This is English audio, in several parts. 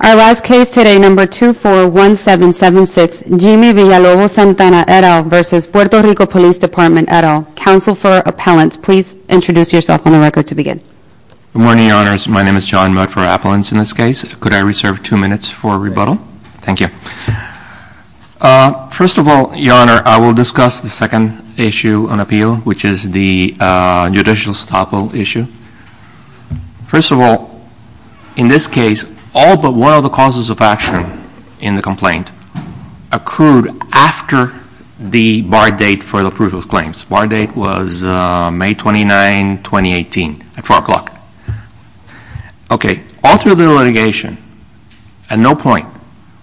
Our last case today, No. 241776, Jimmy Valalobos-Santana, et al. v. Puerto Rico Police Department, et al. Counsel for Appellants. Please introduce yourself on the record to begin. Good morning, Your Honors. My name is John Mott for Appellants in this case. Could I reserve two minutes for rebuttal? Thank you. First of all, Your Honor, I will discuss the second issue on appeal, which is the judicial estoppel issue. First of all, in this case, all but one of the causes of action in the complaint accrued after the bar date for the proof of claims. Bar date was May 29, 2018, at 4 o'clock. Okay, all through the litigation, at no point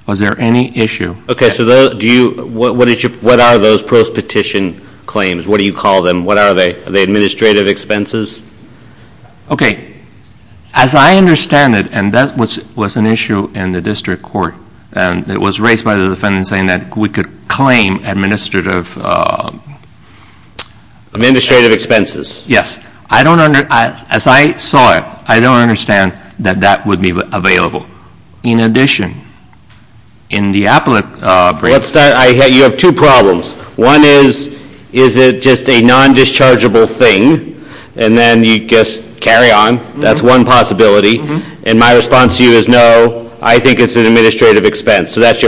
was there any issue. Okay, so what are those post-petition claims? What do you call them? What are they? Are they administrative expenses? Okay, as I understand it, and that was an issue in the district court, and it was raised by the defendant saying that we could claim administrative expenses. Yes. As I saw it, I don't understand that that would be available. In addition, in the appellate brief... You have two problems. One is, is it just a non-dischargeable thing? And then you just carry on. That's one possibility. And my response to you is no, I think it's an administrative expense. So that's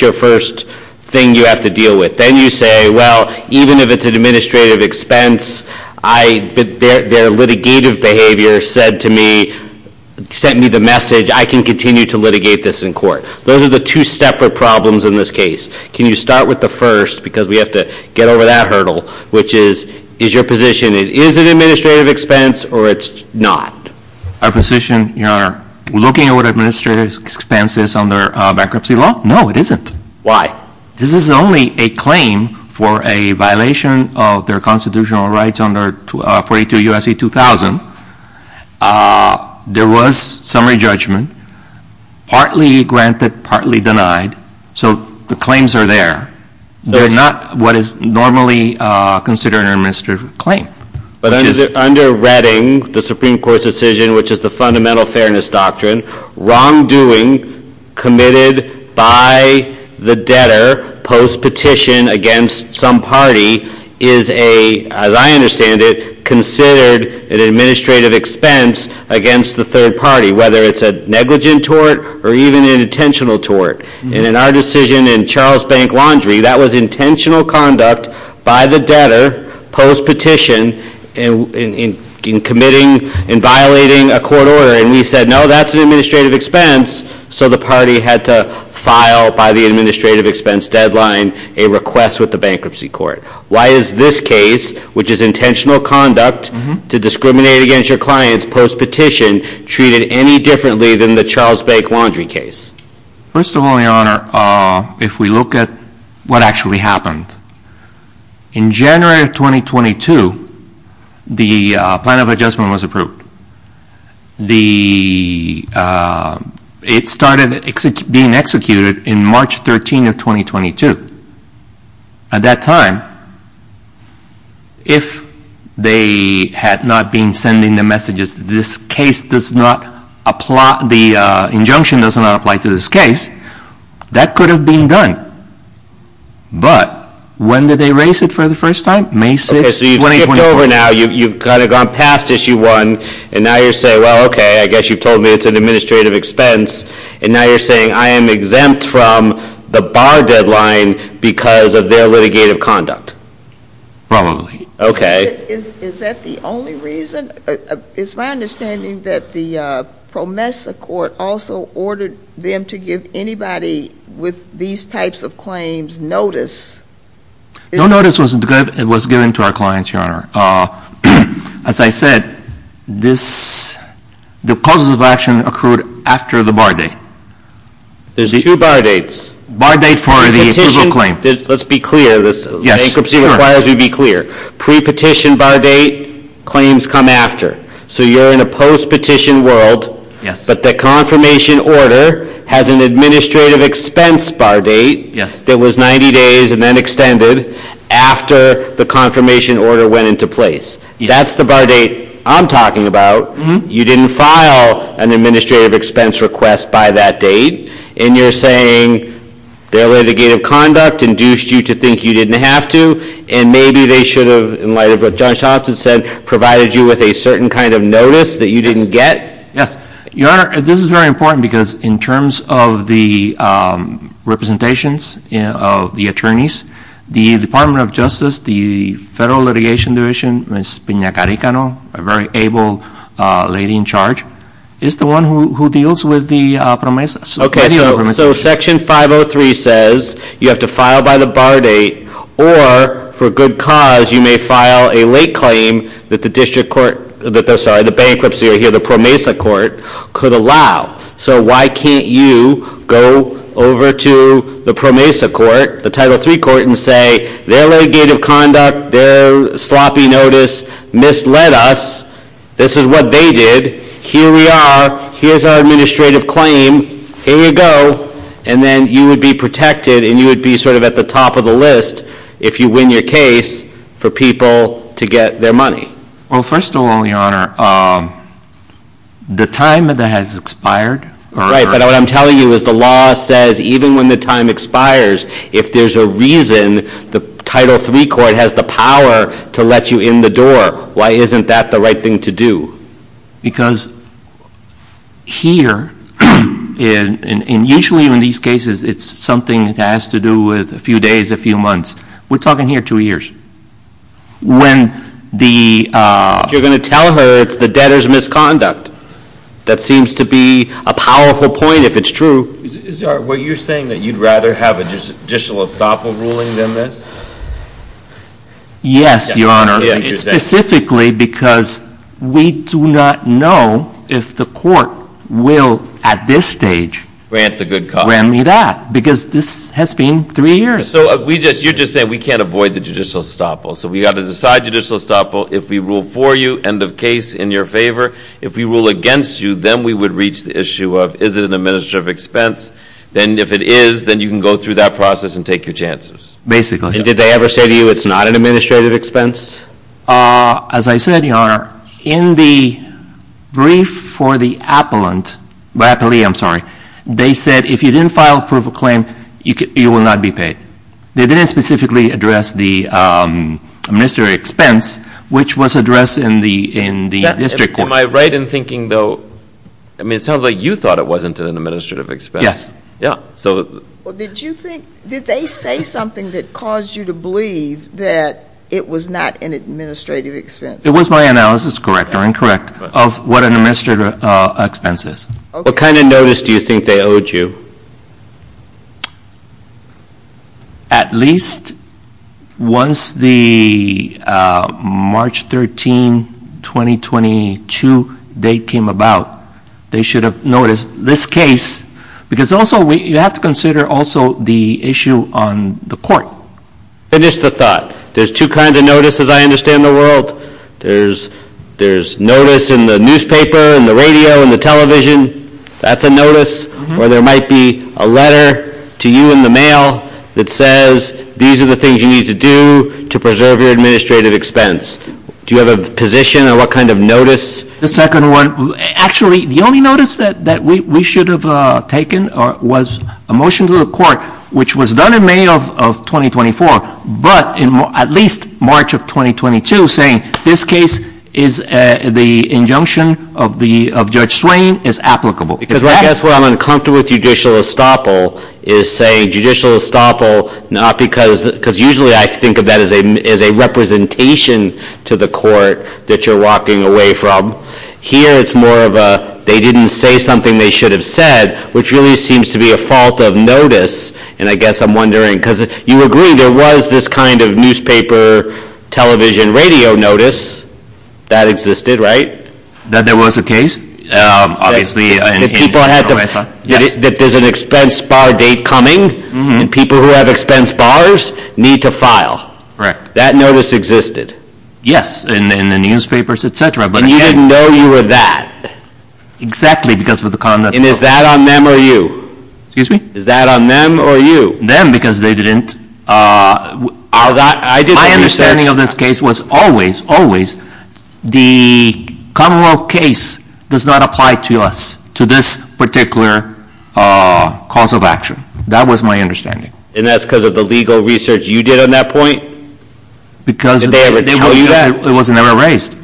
your first thing you have to deal with. Then you say, well, even if it's an administrative expense, their litigative behavior said to me, sent me the message, I can continue to litigate this in court. Those are the two separate problems in this case. Can you start with the first, because we have to get over that hurdle, which is, is your position, it is an administrative expense, or it's not? Our position, Your Honor, looking at what administrative expense is under bankruptcy law, no, it isn't. Why? This is only a claim for a violation of their constitutional rights under 42 U.S.C. 2000. There was summary judgment, partly granted, partly denied. So the claims are there. They're not what is normally considered an administrative claim. But under Redding, the Supreme Court's decision, which is the fundamental fairness doctrine, wrongdoing committed by the debtor, post-petition against some party, is a, as I understand it, considered an administrative expense against the third party, whether it's a negligent tort or even an intentional tort. And in our decision in Charles Bank Laundry, that was intentional conduct by the debtor, post-petition, in committing and violating a court order. And we said, no, that's an administrative expense. So the party had to file, by the administrative expense deadline, a request with the bankruptcy court. Why is this case, which is intentional conduct to discriminate against your clients, post-petition, treated any differently than the Charles Bank Laundry case? First of all, Your Honor, if we look at what actually happened, in January of 2022, the plan of adjustment was approved. It started being executed in March 13 of 2022. At that time, if they had not been sending the messages that this case does not apply, the injunction does not apply to this case, that could have been done. But when did they raise it for the first time? May 6, 2024. So it's over now. You've kind of gone past issue one. And now you're saying, well, OK, I guess you've told me it's an administrative expense. And now you're saying, I am exempt from the bar deadline because of their litigative conduct. Probably. OK. Is that the only reason? It's my understanding that the PROMESA court also ordered them to give anybody with these types of claims notice. No notice was given to our clients, Your Honor. As I said, the causes of action occurred after the bar date. There's two bar dates. Bar date for the approval claim. Let's be clear. The bankruptcy requires we be clear. Pre-petition bar date, claims come after. So you're in a post-petition world. But the confirmation order has an administrative expense bar date that was 90 days and then extended after the confirmation order went into place. That's the bar date I'm talking about. You didn't file an administrative expense request by that date. And you're saying their litigative conduct induced you to think you didn't have to. And maybe they should have, in light of what Judge Thompson said, provided you with a certain kind of notice that you didn't get. Yes. Your Honor, this is very important because in terms of the representations of the attorneys, the Department of Justice, the Federal Litigation Division, Ms. Pinacaricano, a very able lady in charge, is the one who deals with the PROMESA. Okay. So Section 503 says you have to file by the bar date or, for good cause, you may file a late claim that the bankruptcy or the PROMESA court could allow. So why can't you go over to the PROMESA court, the Title III court, and say, their litigative conduct, their sloppy notice misled us. This is what they did. Here we are. Here's our administrative claim. Here you go. And then you would be protected and you would be sort of at the top of the list if you win your case for people to get their money. Well, first of all, Your Honor, the time that has expired. Right. But what I'm telling you is the law says even when the time expires, if there's a reason the Title III court has the power to let you in the door, why isn't that the right thing to do? Because here, and usually in these cases, it's something that has to do with a few days, a few months. We're talking here two years. When the — You're going to tell her it's the debtor's misconduct. That seems to be a powerful point if it's true. Is that what you're saying, that you'd rather have an additional estoppel ruling than this? Yes, Your Honor. Specifically because we do not know if the court will at this stage grant me that because this has been three years. So you're just saying we can't avoid the judicial estoppel. So we've got to decide judicial estoppel. If we rule for you, end of case, in your favor. If we rule against you, then we would reach the issue of is it an administrative expense? Then if it is, then you can go through that process and take your chances. Basically. And did they ever say to you it's not an administrative expense? As I said, Your Honor, in the brief for the appellate, they said if you didn't file a proof of claim, you will not be paid. They didn't specifically address the administrative expense, which was addressed in the district court. Am I right in thinking, though, I mean, it sounds like you thought it wasn't an administrative expense. Did they say something that caused you to believe that it was not an administrative expense? It was my analysis, correct or incorrect, of what an administrative expense is. What kind of notice do you think they owed you? At least once the March 13, 2022 date came about, they should have noticed this case. Because also, you have to consider also the issue on the court. Finish the thought. There's two kinds of notices I understand in the world. There's notice in the newspaper, in the radio, in the television. That's a notice. Or there might be a letter to you in the mail that says these are the things you need to do to preserve your administrative expense. Do you have a position on what kind of notice? The second one, actually, the only notice that we should have taken was a motion to the court, which was done in May of 2024, but at least March of 2022, saying this case is the injunction of Judge Swain is applicable. Because I guess what I'm uncomfortable with judicial estoppel is saying judicial estoppel, because usually I think of that as a representation to the court that you're walking away from. Here, it's more of a they didn't say something they should have said, which really seems to be a fault of notice. And I guess I'm wondering, because you agree there was this kind of newspaper, television, radio notice that existed, right? That there was a case, obviously. That there's an expense bar date coming, and people who have expense bars need to file. That notice existed. Yes, in the newspapers, et cetera. And you didn't know you were that. Exactly, because of the conduct. And is that on them or you? Excuse me? Is that on them or you? Them, because they didn't. My understanding of this case was always, always, the Commonwealth case does not apply to us, to this particular cause of action. That was my understanding. And that's because of the legal research you did on that point? Because it was never raised.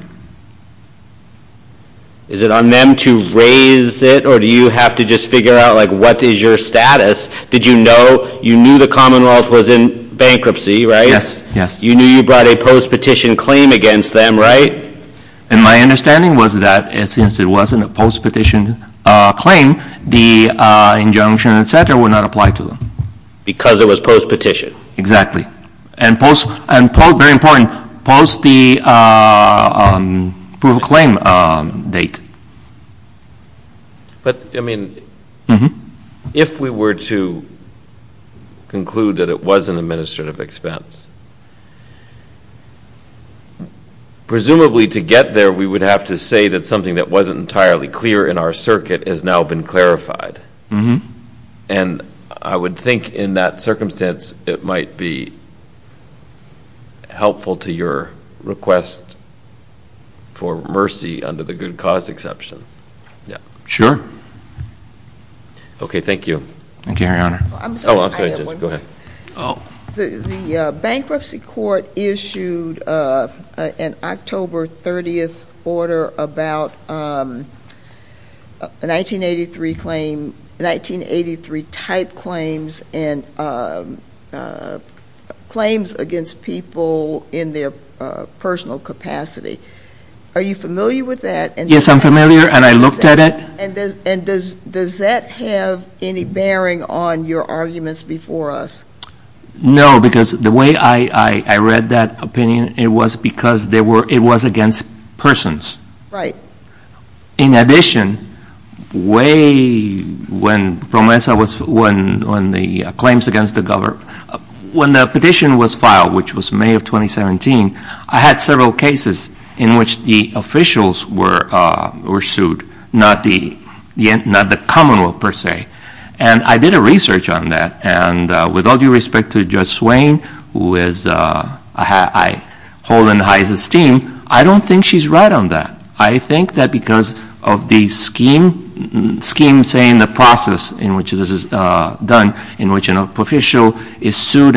Is it on them to raise it, or do you have to just figure out what is your status? Did you know? You knew the Commonwealth was in bankruptcy, right? Yes, yes. You knew you brought a post-petition claim against them, right? And my understanding was that since it wasn't a post-petition claim, the injunction, et cetera, would not apply to them. Because it was post-petition. Exactly. And post, very important, post the proof of claim date. But, I mean, if we were to conclude that it was an administrative expense, presumably to get there we would have to say that something that wasn't entirely clear in our circuit has now been clarified. And I would think in that circumstance it might be helpful to your request for mercy under the good cause exception. Sure. Okay, thank you. Thank you, Your Honor. I'm sorry. Go ahead. The bankruptcy court issued an October 30th order about a 1983 type claims and claims against people in their personal capacity. Are you familiar with that? Yes, I'm familiar, and I looked at it. And does that have any bearing on your arguments before us? No, because the way I read that opinion, it was because it was against persons. Right. In addition, when the claims against the government, when the petition was filed, which was May of 2017, I had several cases in which the officials were sued, not the commonwealth per se. And I did a research on that. And with all due respect to Judge Swain, who I hold in high esteem, I don't think she's right on that. I think that because of the scheme saying the process in which this is done, in which an official is sued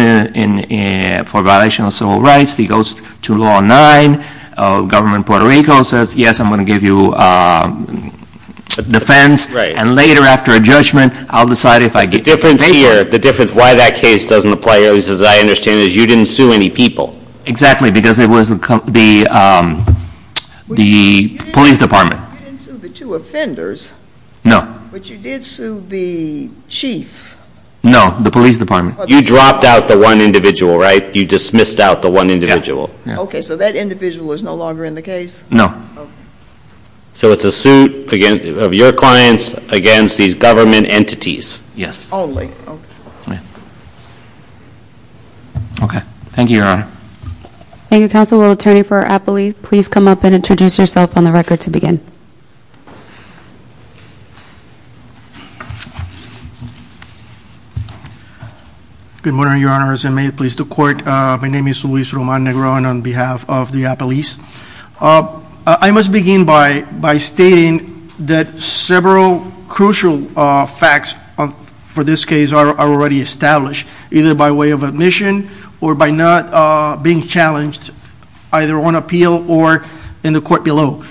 for violation of civil rights, he goes to Law 9, the government of Puerto Rico says, yes, I'm going to give you defense. Right. And later, after a judgment, I'll decide if I give you defense. The difference here, the difference why that case doesn't apply, as I understand it, is you didn't sue any people. Exactly, because it was the police department. You didn't sue the two offenders. No. But you did sue the chief. No, the police department. You dropped out the one individual, right? You dismissed out the one individual. Yeah. Okay, so that individual is no longer in the case? No. Okay. So it's a suit of your clients against these government entities. Yes. Only. Okay. Okay. Thank you, Your Honor. Thank you, Counsel. Constitutional attorney for Appalachia, please come up and introduce yourself on the record to begin. Good morning, Your Honors. May it please the Court. My name is Luis Roman Negron on behalf of the Appalachians. I must begin by stating that several crucial facts for this case are already established, either by way of admission or by not being challenged, either on appeal or in the court below.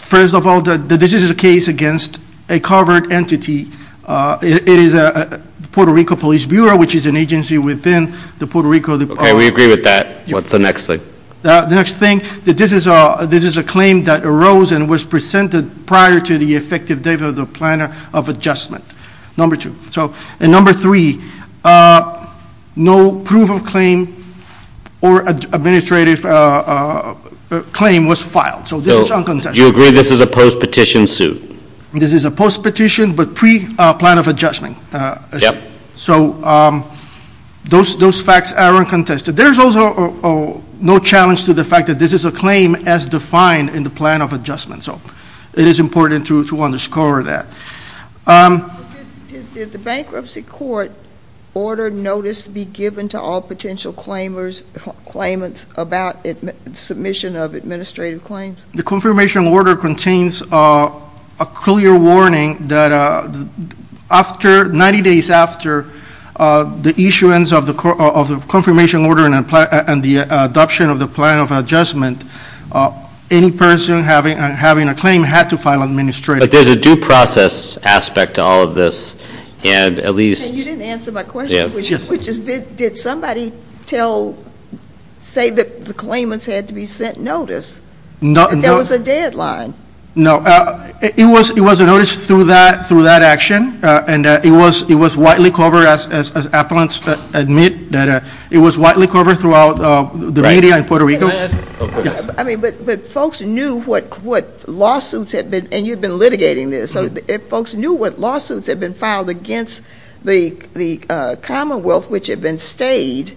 First of all, this is a case against a covert entity. It is the Puerto Rico Police Bureau, which is an agency within the Puerto Rico. Okay, we agree with that. What's the next thing? The next thing, this is a claim that arose and was presented prior to the effective date of the plan of adjustment. Number two. And number three, no proof of claim or administrative claim was filed. So this is uncontested. So you agree this is a post-petition suit? This is a post-petition but pre-plan of adjustment. Yep. So those facts are uncontested. There's also no challenge to the fact that this is a claim as defined in the plan of adjustment. So it is important to underscore that. Did the bankruptcy court order notice be given to all potential claimants about submission of administrative claims? The confirmation order contains a clear warning that 90 days after the issuance of the confirmation order and the adoption of the plan of adjustment, any person having a claim had to file administrative claims. But there's a due process aspect to all of this. You didn't answer my question, which is did somebody say that the claimants had to be sent notice? There was a deadline. It was a notice through that action, and it was widely covered, as appellants admit, that it was widely covered throughout the media in Puerto Rico. I mean, but folks knew what lawsuits had been, and you'd been litigating this, so folks knew what lawsuits had been filed against the Commonwealth, which had been stayed,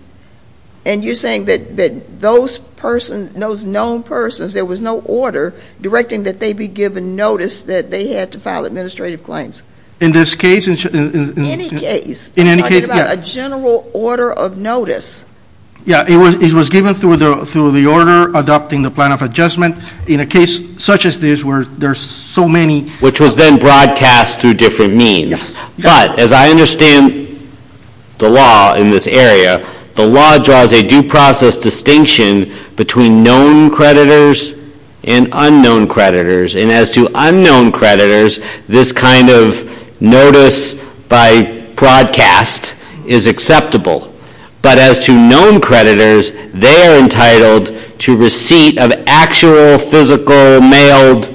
and you're saying that those persons, those known persons, there was no order directing that they be given notice that they had to file administrative claims. In this case? Any case. In any case, yeah. I'm talking about a general order of notice. Yeah, it was given through the order adopting the plan of adjustment. In a case such as this where there's so many. Which was then broadcast through different means. But as I understand the law in this area, the law draws a due process distinction between known creditors and unknown creditors. And as to unknown creditors, this kind of notice by broadcast is acceptable. But as to known creditors, they are entitled to receipt of actual, physical, mailed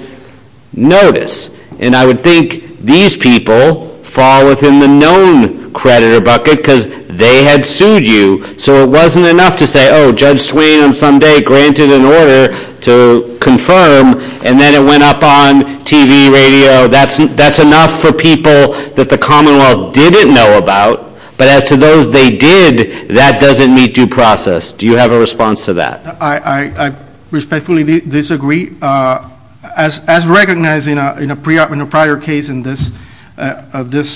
notice. And I would think these people fall within the known creditor bucket because they had sued you. So it wasn't enough to say, oh, Judge Swain on Sunday granted an order to confirm, and then it went up on TV, radio. That's enough for people that the Commonwealth didn't know about. But as to those they did, that doesn't meet due process. Do you have a response to that? I respectfully disagree. As recognized in a prior case in this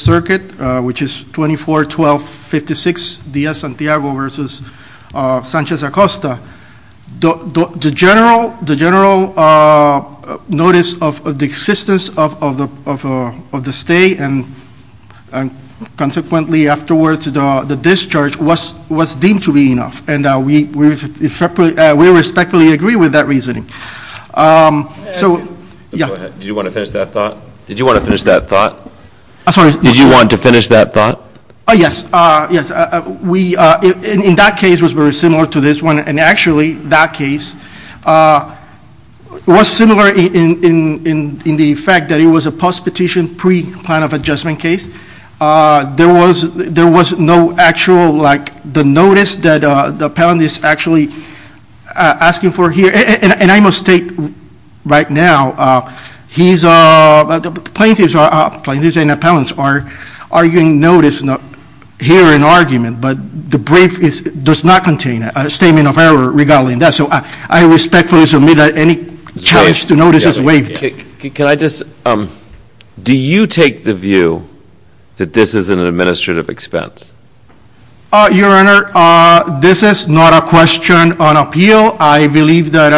circuit, which is 24-12-56 Dia Santiago versus Sanchez Acosta. The general notice of the existence of the stay and consequently afterwards the discharge was deemed to be enough. And we respectfully agree with that reasoning. So, yeah. Go ahead. Did you want to finish that thought? Did you want to finish that thought? I'm sorry. Did you want to finish that thought? Yes. Yes. We, in that case, was very similar to this one. And actually, that case was similar in the fact that it was a post-petition pre-plan of adjustment case. There was no actual, like, the notice that the appellant is actually asking for here. And I must state right now, plaintiffs and appellants are giving notice here in argument. But the brief does not contain a statement of error regarding that. So, I respectfully submit that any challenge to notice is waived. Can I just, do you take the view that this is an administrative expense? Your Honor, this is not a question on appeal. I believe that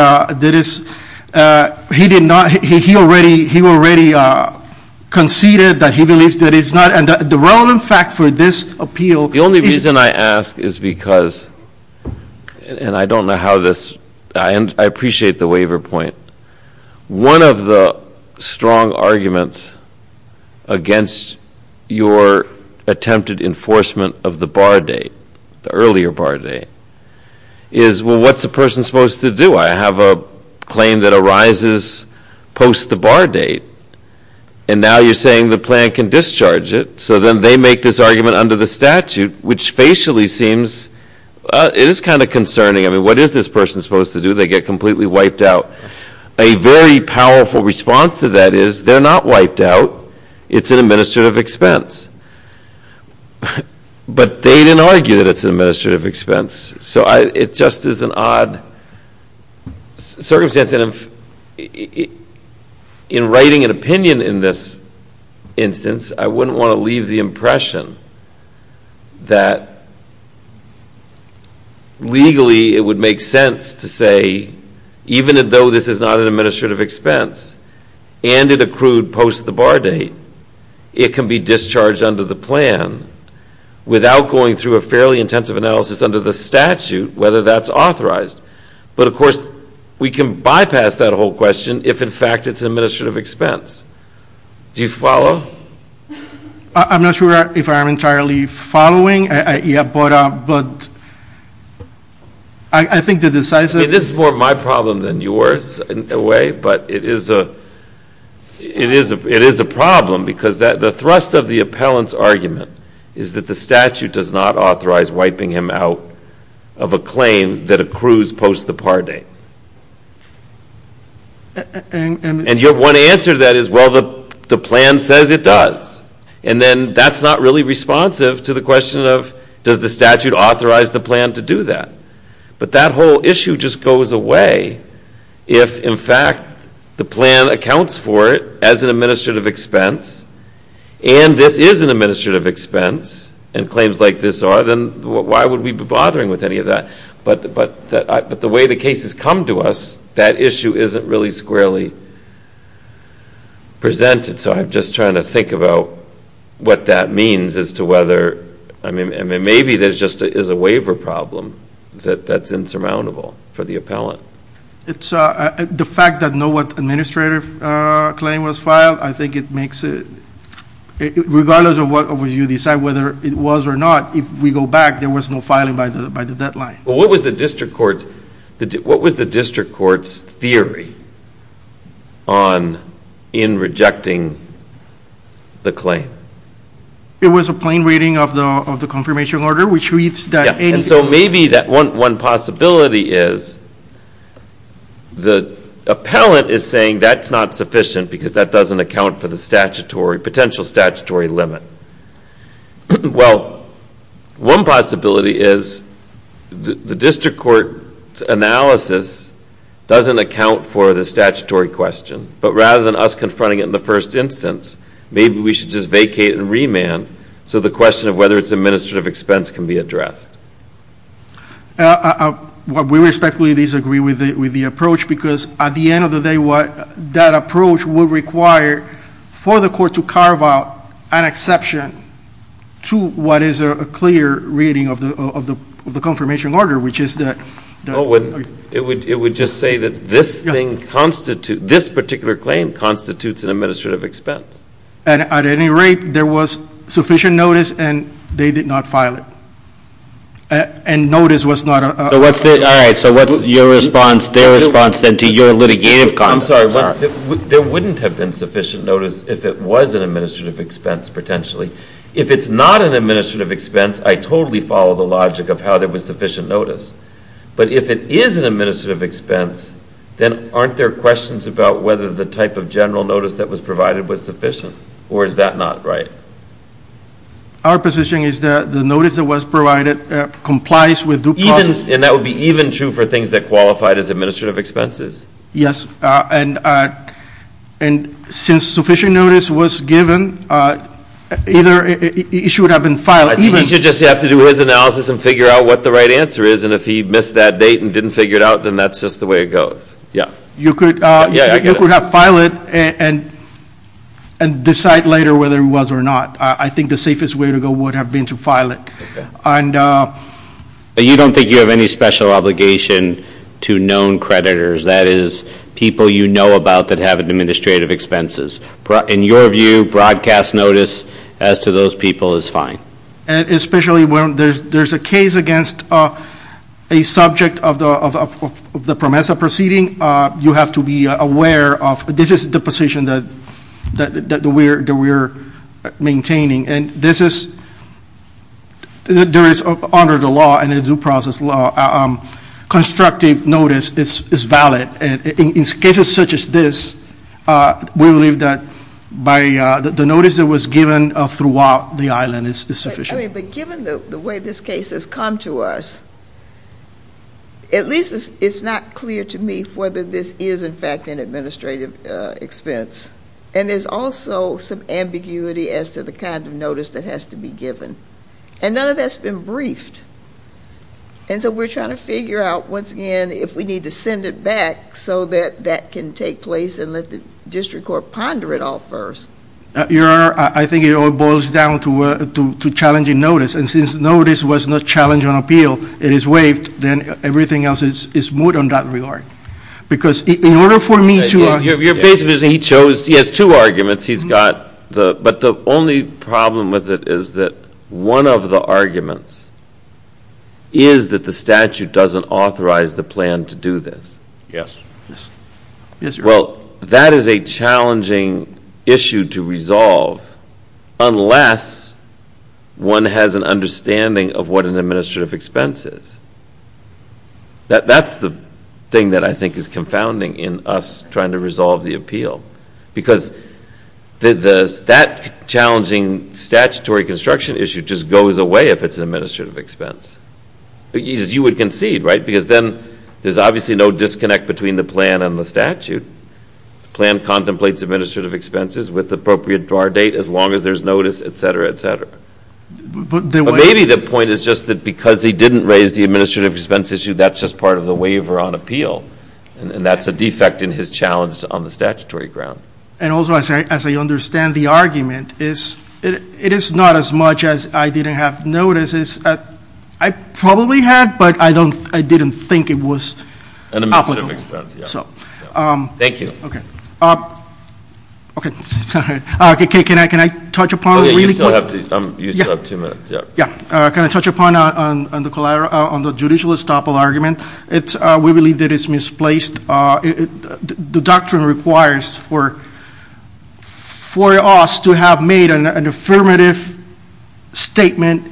he already conceded that he believes that it's not. And the relevant fact for this appeal is. The only reason I ask is because, and I don't know how this, I appreciate the waiver point. One of the strong arguments against your attempted enforcement of the bar date, the earlier bar date, is, well, what's a person supposed to do? I have a claim that arises post the bar date. And now you're saying the plan can discharge it. So, then they make this argument under the statute, which facially seems, it is kind of concerning. I mean, what is this person supposed to do? They get completely wiped out. A very powerful response to that is, they're not wiped out. It's an administrative expense. But they didn't argue that it's an administrative expense. So, it just is an odd circumstance. In writing an opinion in this instance, I wouldn't want to leave the impression that legally it would make sense to say, even though this is not an administrative expense, and it accrued post the bar date, it can be discharged under the plan without going through a fairly intensive analysis under the statute, whether that's authorized. But, of course, we can bypass that whole question if, in fact, it's an administrative expense. Do you follow? I'm not sure if I'm entirely following. Yeah, but I think the decisive. This is more my problem than yours in a way. But it is a problem because the thrust of the appellant's argument is that the statute does not authorize wiping him out of a claim that accrues post the par date. And your one answer to that is, well, the plan says it does. And then that's not really responsive to the question of, does the statute authorize the plan to do that? But that whole issue just goes away if, in fact, the plan accounts for it as an administrative expense, and this is an administrative expense, and claims like this are, then why would we be bothering with any of that? But the way the case has come to us, that issue isn't really squarely presented. So I'm just trying to think about what that means as to whether, I mean, maybe there just is a waiver problem that's insurmountable for the appellant. The fact that no administrative claim was filed, I think it makes it, regardless of whether you decide whether it was or not, if we go back, there was no filing by the deadline. What was the district court's theory in rejecting the claim? It was a plain reading of the confirmation order, which reads that any claim Maybe that one possibility is the appellant is saying that's not sufficient because that doesn't account for the potential statutory limit. Well, one possibility is the district court's analysis doesn't account for the statutory question, but rather than us confronting it in the first instance, maybe we should just vacate and remand so the question of whether it's administrative expense can be addressed. We respectfully disagree with the approach because at the end of the day, that approach would require for the court to carve out an exception to what is a clear reading of the confirmation order, which is that It would just say that this particular claim constitutes an administrative expense. At any rate, there was sufficient notice and they did not file it. And notice was not a All right, so what's your response, their response then to your litigative comments? I'm sorry. There wouldn't have been sufficient notice if it was an administrative expense potentially. If it's not an administrative expense, I totally follow the logic of how there was sufficient notice. But if it is an administrative expense, then aren't there questions about whether the type of general notice that was provided was sufficient or is that not right? Our position is that the notice that was provided complies with And that would be even true for things that qualified as administrative expenses. Yes. And since sufficient notice was given, it should have been filed. He should just have to do his analysis and figure out what the right answer is. And if he missed that date and didn't figure it out, then that's just the way it goes. You could have filed it and decide later whether it was or not. I think the safest way to go would have been to file it. You don't think you have any special obligation to known creditors, that is people you know about that have administrative expenses. In your view, broadcast notice as to those people is fine. Especially when there's a case against a subject of the PROMESA proceeding, you have to be aware of this is the position that we're maintaining. And this is under the law and the due process law. Constructive notice is valid. In cases such as this, we believe that the notice that was given throughout the island is sufficient. But given the way this case has come to us, at least it's not clear to me whether this is in fact an administrative expense. And there's also some ambiguity as to the kind of notice that has to be given. And none of that's been briefed. And so we're trying to figure out, once again, if we need to send it back so that that can take place and let the district court ponder it all first. Your Honor, I think it all boils down to challenging notice. And since notice was not challenged on appeal, it is waived. Then everything else is smooth on that regard. Because in order for me to – You're basically saying he has two arguments. But the only problem with it is that one of the arguments is that the statute doesn't authorize the plan to do this. Yes. Well, that is a challenging issue to resolve unless one has an understanding of what an administrative expense is. That's the thing that I think is confounding in us trying to resolve the appeal. Because that challenging statutory construction issue just goes away if it's an administrative expense. As you would concede, right? Because then there's obviously no disconnect between the plan and the statute. The plan contemplates administrative expenses with appropriate draw date as long as there's notice, et cetera, et cetera. But maybe the point is just that because he didn't raise the administrative expense issue, that's just part of the waiver on appeal. And that's a defect in his challenge on the statutory ground. And also, as I understand the argument, it is not as much as I didn't have notice. I probably had, but I didn't think it was applicable. Administrative expense, yeah. Thank you. Okay. Okay. Sorry. Can I touch upon it really quick? You still have two minutes. Yeah. Can I touch upon the judicial estoppel argument? We believe that it's misplaced. The doctrine requires for us to have made an affirmative statement,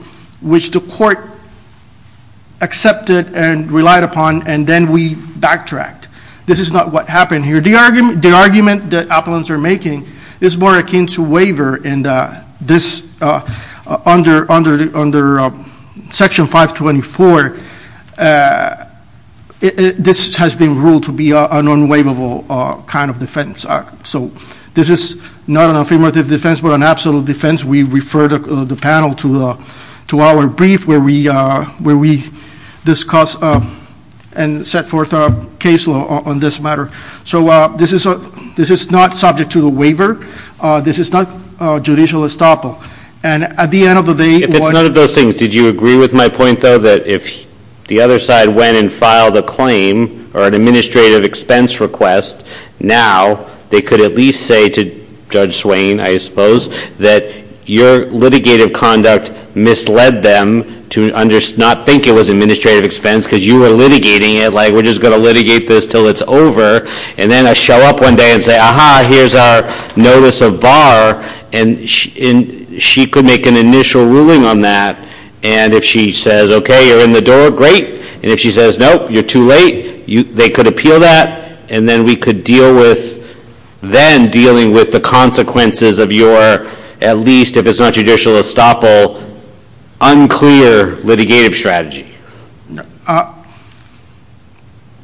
which the court accepted and relied upon, and then we backtracked. This is not what happened here. The argument that appellants are making is more akin to waiver, and under Section 524, this has been ruled to be an unwaivable kind of defense. So this is not an affirmative defense, but an absolute defense. We refer the panel to our brief where we discuss and set forth a case law on this matter. So this is not subject to the waiver. This is not judicial estoppel. And at the end of the day, what — If it's none of those things, did you agree with my point, though, that if the other side went and filed a claim or an administrative expense request, now they could at least say to Judge Swain, I suppose, that your litigative conduct misled them to not think it was administrative expense, because you were litigating it, like we're just going to litigate this until it's over. And then I show up one day and say, aha, here's our notice of bar, and she could make an initial ruling on that. And if she says, okay, you're in the door, great. And if she says, nope, you're too late, they could appeal that. And then we could deal with then dealing with the consequences of your, at least if it's not judicial estoppel, unclear litigative strategy.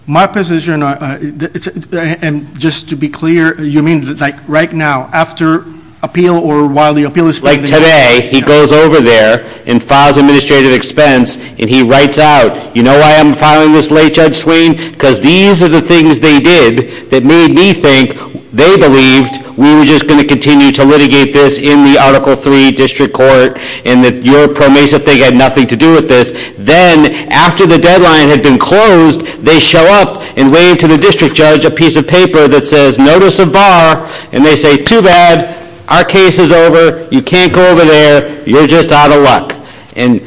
My position, and just to be clear, you mean like right now, after appeal or while the appeal is — Like today, he goes over there and files administrative expense, and he writes out, you know why I'm filing this late, Judge Swain? Because these are the things they did that made me think they believed we were just going to continue to litigate this in the Article III district court, and that your pro miso thing had nothing to do with this. Then, after the deadline had been closed, they show up and wave to the district judge a piece of paper that says notice of bar, and they say, too bad, our case is over, you can't go over there, you're just out of luck. And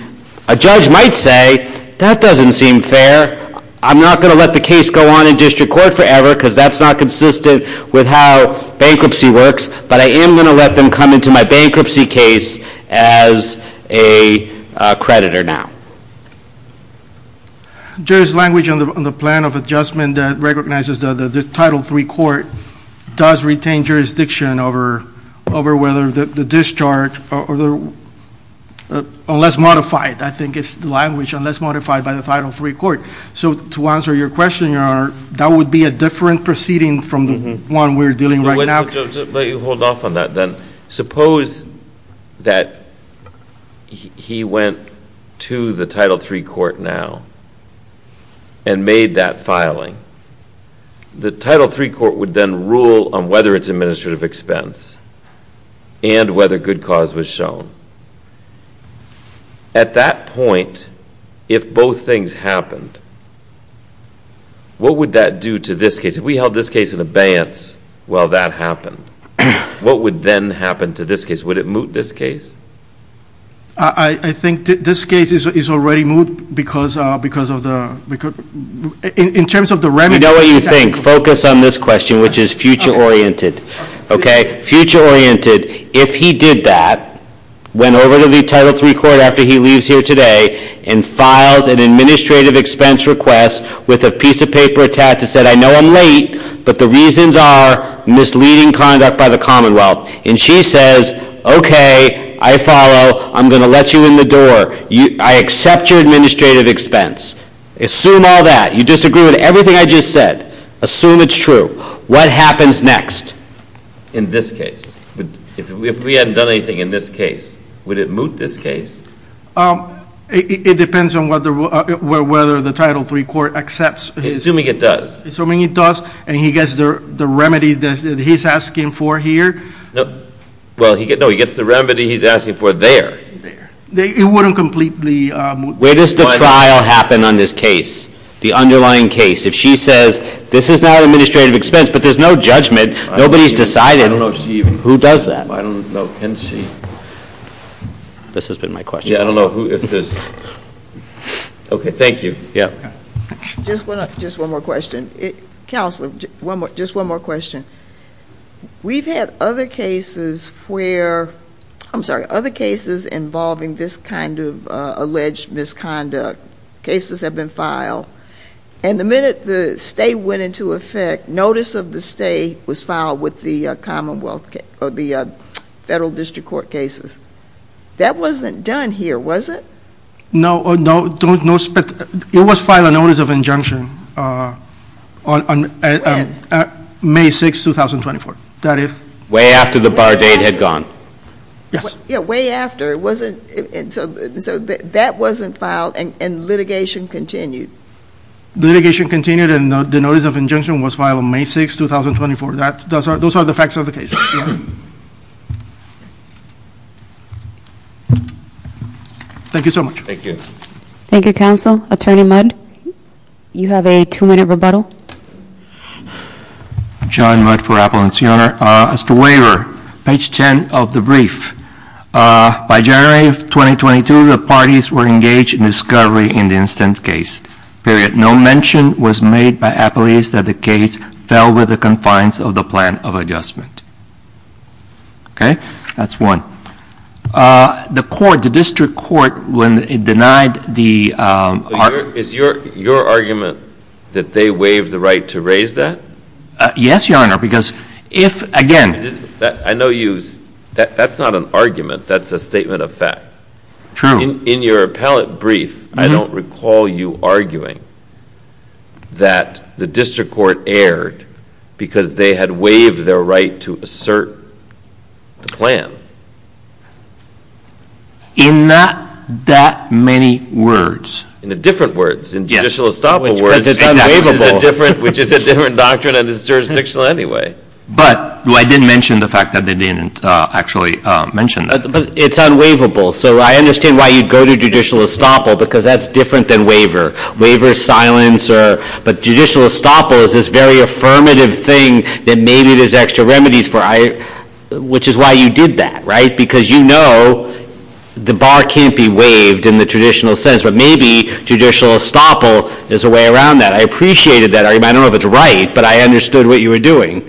a judge might say, that doesn't seem fair. I'm not going to let the case go on in district court forever because that's not consistent with how bankruptcy works, but I am going to let them come into my bankruptcy case as a creditor now. Judge, language on the plan of adjustment that recognizes that the Title III court does retain jurisdiction over whether the discharge, unless modified, I think it's the language, unless modified by the Title III court. So to answer your question, Your Honor, that would be a different proceeding from the one we're dealing with right now. Let me hold off on that then. Suppose that he went to the Title III court now and made that filing. The Title III court would then rule on whether it's administrative expense and whether good cause was shown. At that point, if both things happened, what would that do to this case? If we held this case in abeyance while that happened, what would then happen to this case? Would it moot this case? I think this case is already moot because of the, in terms of the remedy- You know what you think. Focus on this question, which is future oriented. Okay? Future oriented, if he did that, went over to the Title III court after he leaves here today, and files an administrative expense request with a piece of paper attached that said, I know I'm late, but the reasons are misleading conduct by the Commonwealth. And she says, okay, I follow. I'm going to let you in the door. I accept your administrative expense. Assume all that. You disagree with everything I just said. Assume it's true. What happens next? In this case. If we hadn't done anything in this case, would it moot this case? It depends on whether the Title III court accepts- Assuming it does. Assuming it does, and he gets the remedy that he's asking for here. Well, no, he gets the remedy he's asking for there. There. It wouldn't completely- Where does the trial happen on this case? The underlying case? If she says, this is not an administrative expense, but there's no judgment, nobody's decided- I don't know if she even- Who does that? I don't know. Can she? This has been my question. Yeah, I don't know who this is. Okay, thank you. Yeah. Just one more question. Counselor, just one more question. We've had other cases where- I'm sorry, other cases involving this kind of alleged misconduct. Cases have been filed, and the minute the stay went into effect, that notice of the stay was filed with the Federal District Court cases. That wasn't done here, was it? No. It was filed a notice of injunction on May 6, 2024. Way after the bar date had gone. Yes. Yeah, way after. So that wasn't filed, and litigation continued. Litigation continued, and the notice of injunction was filed on May 6, 2024. Those are the facts of the case. Thank you so much. Thank you. Thank you, Counsel. Attorney Mudd, you have a two-minute rebuttal. John Mudd for Appellants. Your Honor, as to waiver, page 10 of the brief, by January of 2022, the parties were engaged in discovery in the instant case. Period. No mention was made by appellees that the case fell within the confines of the plan of adjustment. Okay? That's one. The court, the District Court, when it denied the- Is your argument that they waived the right to raise that? Yes, Your Honor, because if, again- I know that's not an argument. That's a statement of fact. In your appellate brief, I don't recall you arguing that the District Court erred because they had waived their right to assert the plan. In not that many words. In different words. Yes. In judicial estoppel words, which is a different doctrine and is jurisdictional anyway. But I did mention the fact that they didn't actually mention that. But it's unwaivable. So I understand why you'd go to judicial estoppel, because that's different than waiver. Waiver is silence, but judicial estoppel is this very affirmative thing that maybe there's extra remedies for, which is why you did that, right? Because you know the bar can't be waived in the traditional sense, but maybe judicial estoppel is a way around that. I appreciated that argument. I don't know if it's right, but I understood what you were doing.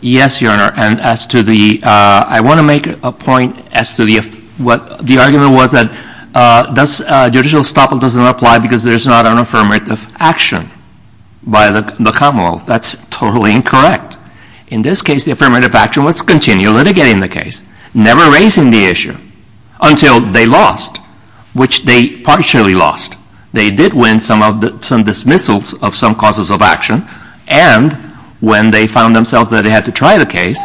Yes, Your Honor. And as to the, I want to make a point as to the argument was that judicial estoppel doesn't apply because there's not an affirmative action by the Commonwealth. That's totally incorrect. In this case, the affirmative action was to continue litigating the case, never raising the issue until they lost, which they partially lost. They did win some dismissals of some causes of action. And when they found themselves that they had to try the case,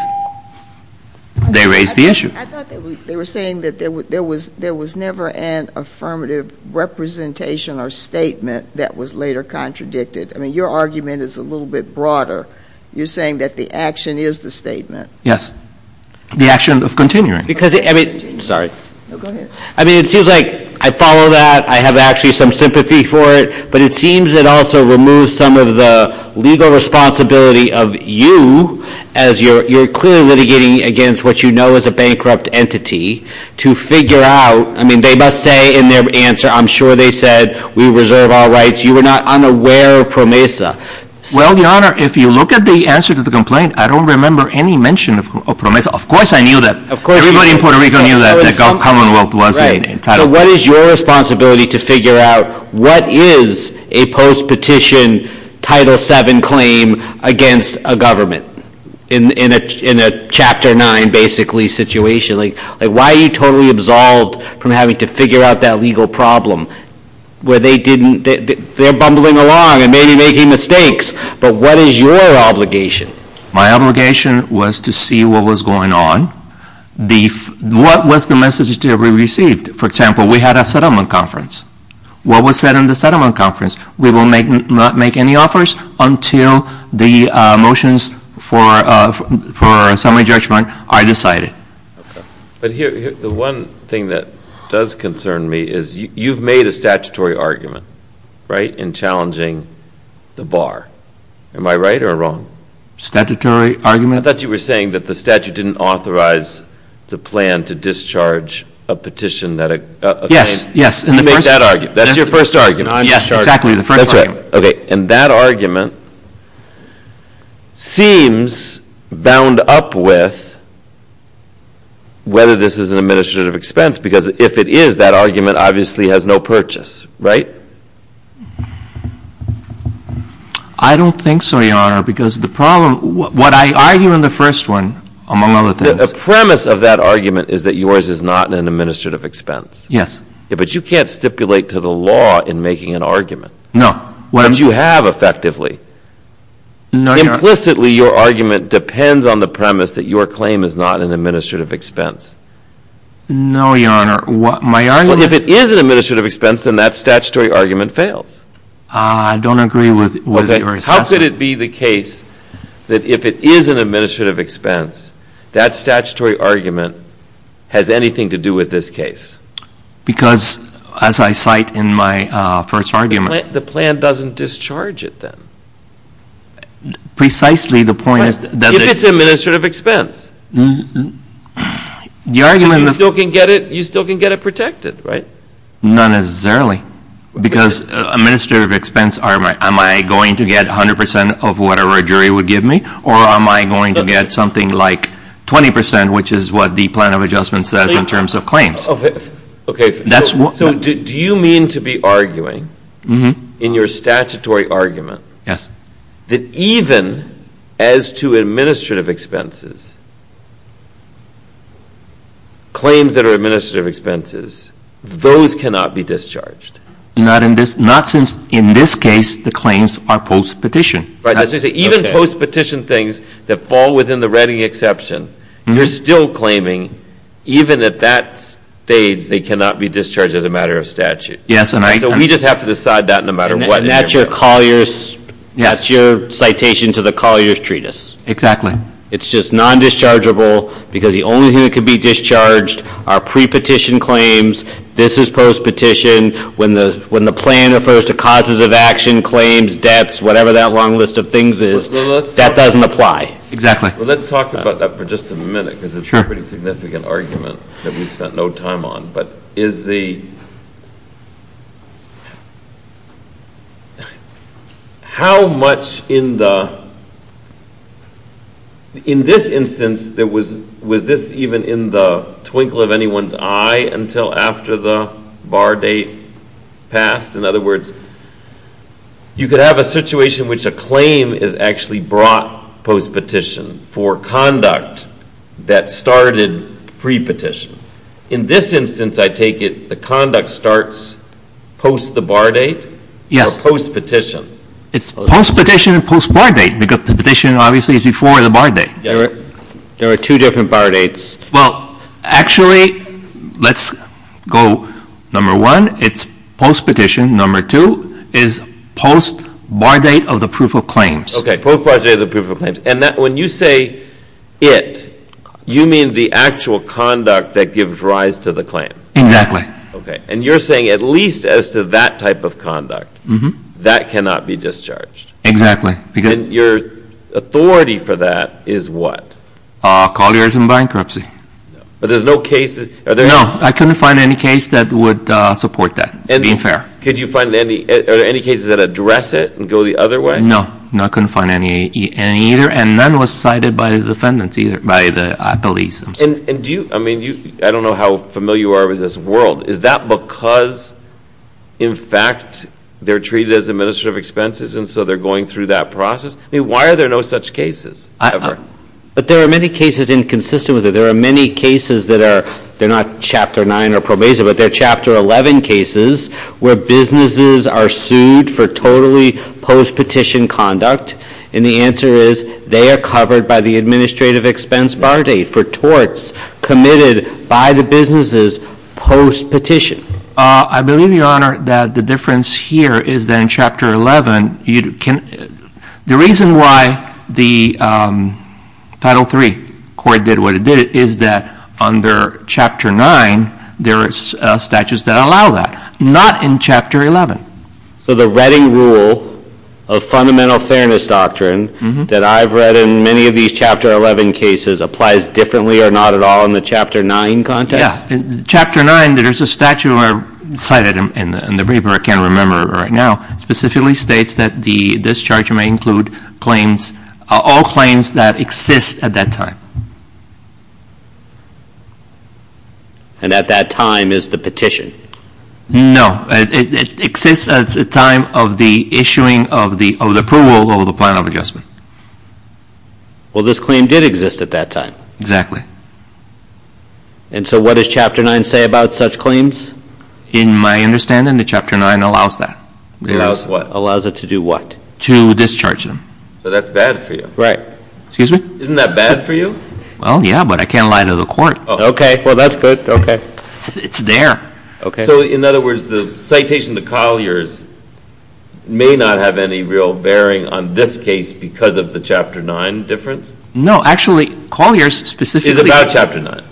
they raised the issue. I thought they were saying that there was never an affirmative representation or statement that was later contradicted. I mean, your argument is a little bit broader. You're saying that the action is the statement. Yes. The action of continuing. Because, I mean, it seems like I follow that. I have actually some sympathy for it. But it seems it also removes some of the legal responsibility of you as you're clearly litigating against what you know is a bankrupt entity to figure out. I mean, they must say in their answer, I'm sure they said we reserve our rights. You were not unaware of PROMESA. Well, Your Honor, if you look at the answer to the complaint, I don't remember any mention of PROMESA. Of course I knew that. Of course. Everybody in Puerto Rico knew that the Commonwealth was entitled. So what is your responsibility to figure out what is a post-petition Title VII claim against a government in a Chapter 9 basically situation? Like why are you totally absolved from having to figure out that legal problem where they didn't, they're bumbling along and maybe making mistakes. But what is your obligation? My obligation was to see what was going on. What was the message that we received? For example, we had a settlement conference. What was said in the settlement conference? We will not make any offers until the motions for summary judgment are decided. Okay. But here, the one thing that does concern me is you've made a statutory argument, right, in challenging the bar. Am I right or wrong? Statutory argument? I thought you were saying that the statute didn't authorize the plan to discharge a petition. Yes, yes. You made that argument. That's your first argument. Yes, exactly, the first argument. That's right. Okay. And that argument seems bound up with whether this is an administrative expense because if it is, that argument obviously has no purchase, right? I don't think so, Your Honor. Because the problem, what I argue in the first one, among other things. The premise of that argument is that yours is not an administrative expense. Yes. But you can't stipulate to the law in making an argument. No. But you have effectively. No, Your Honor. Implicitly, your argument depends on the premise that your claim is not an administrative expense. No, Your Honor. My argument. Well, if it is an administrative expense, then that statutory argument fails. I don't agree with your assessment. How could it be the case that if it is an administrative expense, that statutory argument has anything to do with this case? Because as I cite in my first argument. The plan doesn't discharge it then. Precisely the point is that. If it's an administrative expense. The argument. Because you still can get it protected, right? Not necessarily. Because administrative expense, am I going to get 100% of whatever a jury would give me? Or am I going to get something like 20% which is what the plan of adjustment says in terms of claims? Okay. That's what. So do you mean to be arguing in your statutory argument. Yes. That even as to administrative expenses. Claims that are administrative expenses. Those cannot be discharged. Not since in this case the claims are post petition. Even post petition things that fall within the Redding exception. You're still claiming even at that stage they cannot be discharged as a matter of statute. Yes. So we just have to decide that no matter what. And that's your collier's. Yes. That's your citation to the collier's treatise. Exactly. It's just non-dischargeable because the only thing that could be discharged are pre-petition claims. This is post petition. When the plan refers to causes of action, claims, debts, whatever that long list of things is. That doesn't apply. Exactly. Well, let's talk about that for just a minute because it's a pretty significant argument that we spent no time on. But is the... How much in the... In this instance, was this even in the twinkle of anyone's eye until after the bar date passed? In other words, you could have a situation which a claim is actually brought post petition for conduct that started pre-petition. In this instance, I take it, the conduct starts post the bar date? Or post petition? It's post petition and post bar date because the petition obviously is before the bar date. There are two different bar dates. Well, actually, let's go number one. It's post petition. Number two is post bar date of the proof of claims. Okay. Post bar date of the proof of claims. And when you say it, you mean the actual conduct that gives rise to the claim? Exactly. Okay. And you're saying at least as to that type of conduct, that cannot be discharged? Exactly. And your authority for that is what? Colliers and bankruptcy. But there's no cases... No. I couldn't find any case that would support that, being fair. Could you find any cases that address it and go the other way? No. I couldn't find any either. And none was cited by the defendants either, by the police themselves. And do you, I mean, I don't know how familiar you are with this world. Is that because, in fact, they're treated as administrative expenses and so they're going through that process? I mean, why are there no such cases ever? But there are many cases inconsistent with it. And the answer is they are covered by the administrative expense bar date for torts committed by the businesses post petition. I believe, Your Honor, that the difference here is that in Chapter 11, the reason why the Title III court did what it did is that under Chapter 9, there are statutes that allow that. Not in Chapter 11. So the Reading Rule of Fundamental Fairness Doctrine that I've read in many of these Chapter 11 cases applies differently or not at all in the Chapter 9 context? Yeah. Chapter 9, there's a statute cited in the brief, and I can't remember it right now, specifically states that this charge may include claims, all claims that exist at that time. And at that time is the petition? No. It exists at the time of the issuing of the approval of the plan of adjustment. Well, this claim did exist at that time. Exactly. And so what does Chapter 9 say about such claims? In my understanding, the Chapter 9 allows that. Allows what? Allows it to do what? To discharge them. So that's bad for you. Right. Excuse me? Isn't that bad for you? Well, yeah, but I can't lie to the court. Okay. Well, that's good. Okay. It's there. Okay. So in other words, the citation to Collier's may not have any real bearing on this case because of the Chapter 9 difference? No. Actually, Collier's specifically Is about Chapter 9.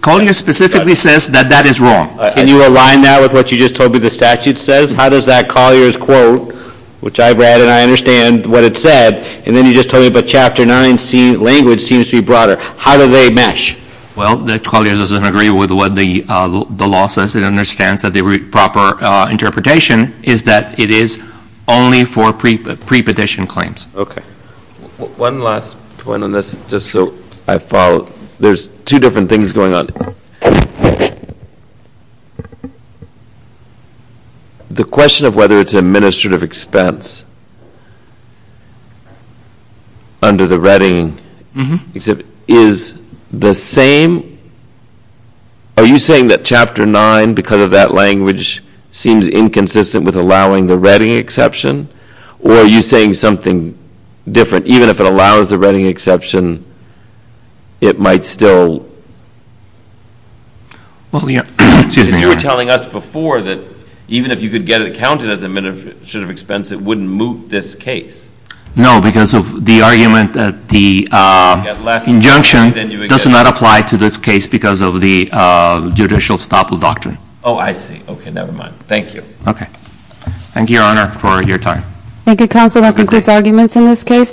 Collier's specifically says that that is wrong. Can you align that with what you just told me the statute says? How does that Collier's quote, which I've read and I understand what it said, and then you just told me about Chapter 9 language seems to be broader, how do they mesh? Well, Collier's doesn't agree with what the law says. It understands that the proper interpretation is that it is only for pre-petition claims. Okay. One last point on this just so I follow. There's two different things going on. The question of whether it's an administrative expense under the Redding, is the same, are you saying that Chapter 9 because of that language seems inconsistent with allowing the Redding exception? Or are you saying something different? Even if it allows the Redding exception, it might still Well, yeah. You were telling us before that even if you could get it counted as an administrative expense, it wouldn't move this case. No, because of the argument that the injunction does not apply to this case because of the judicial stop of doctrine. Oh, I see. Okay, never mind. Thank you. Okay. Thank you, Your Honor, for your time. Thank you, Counsel. That concludes arguments in this case.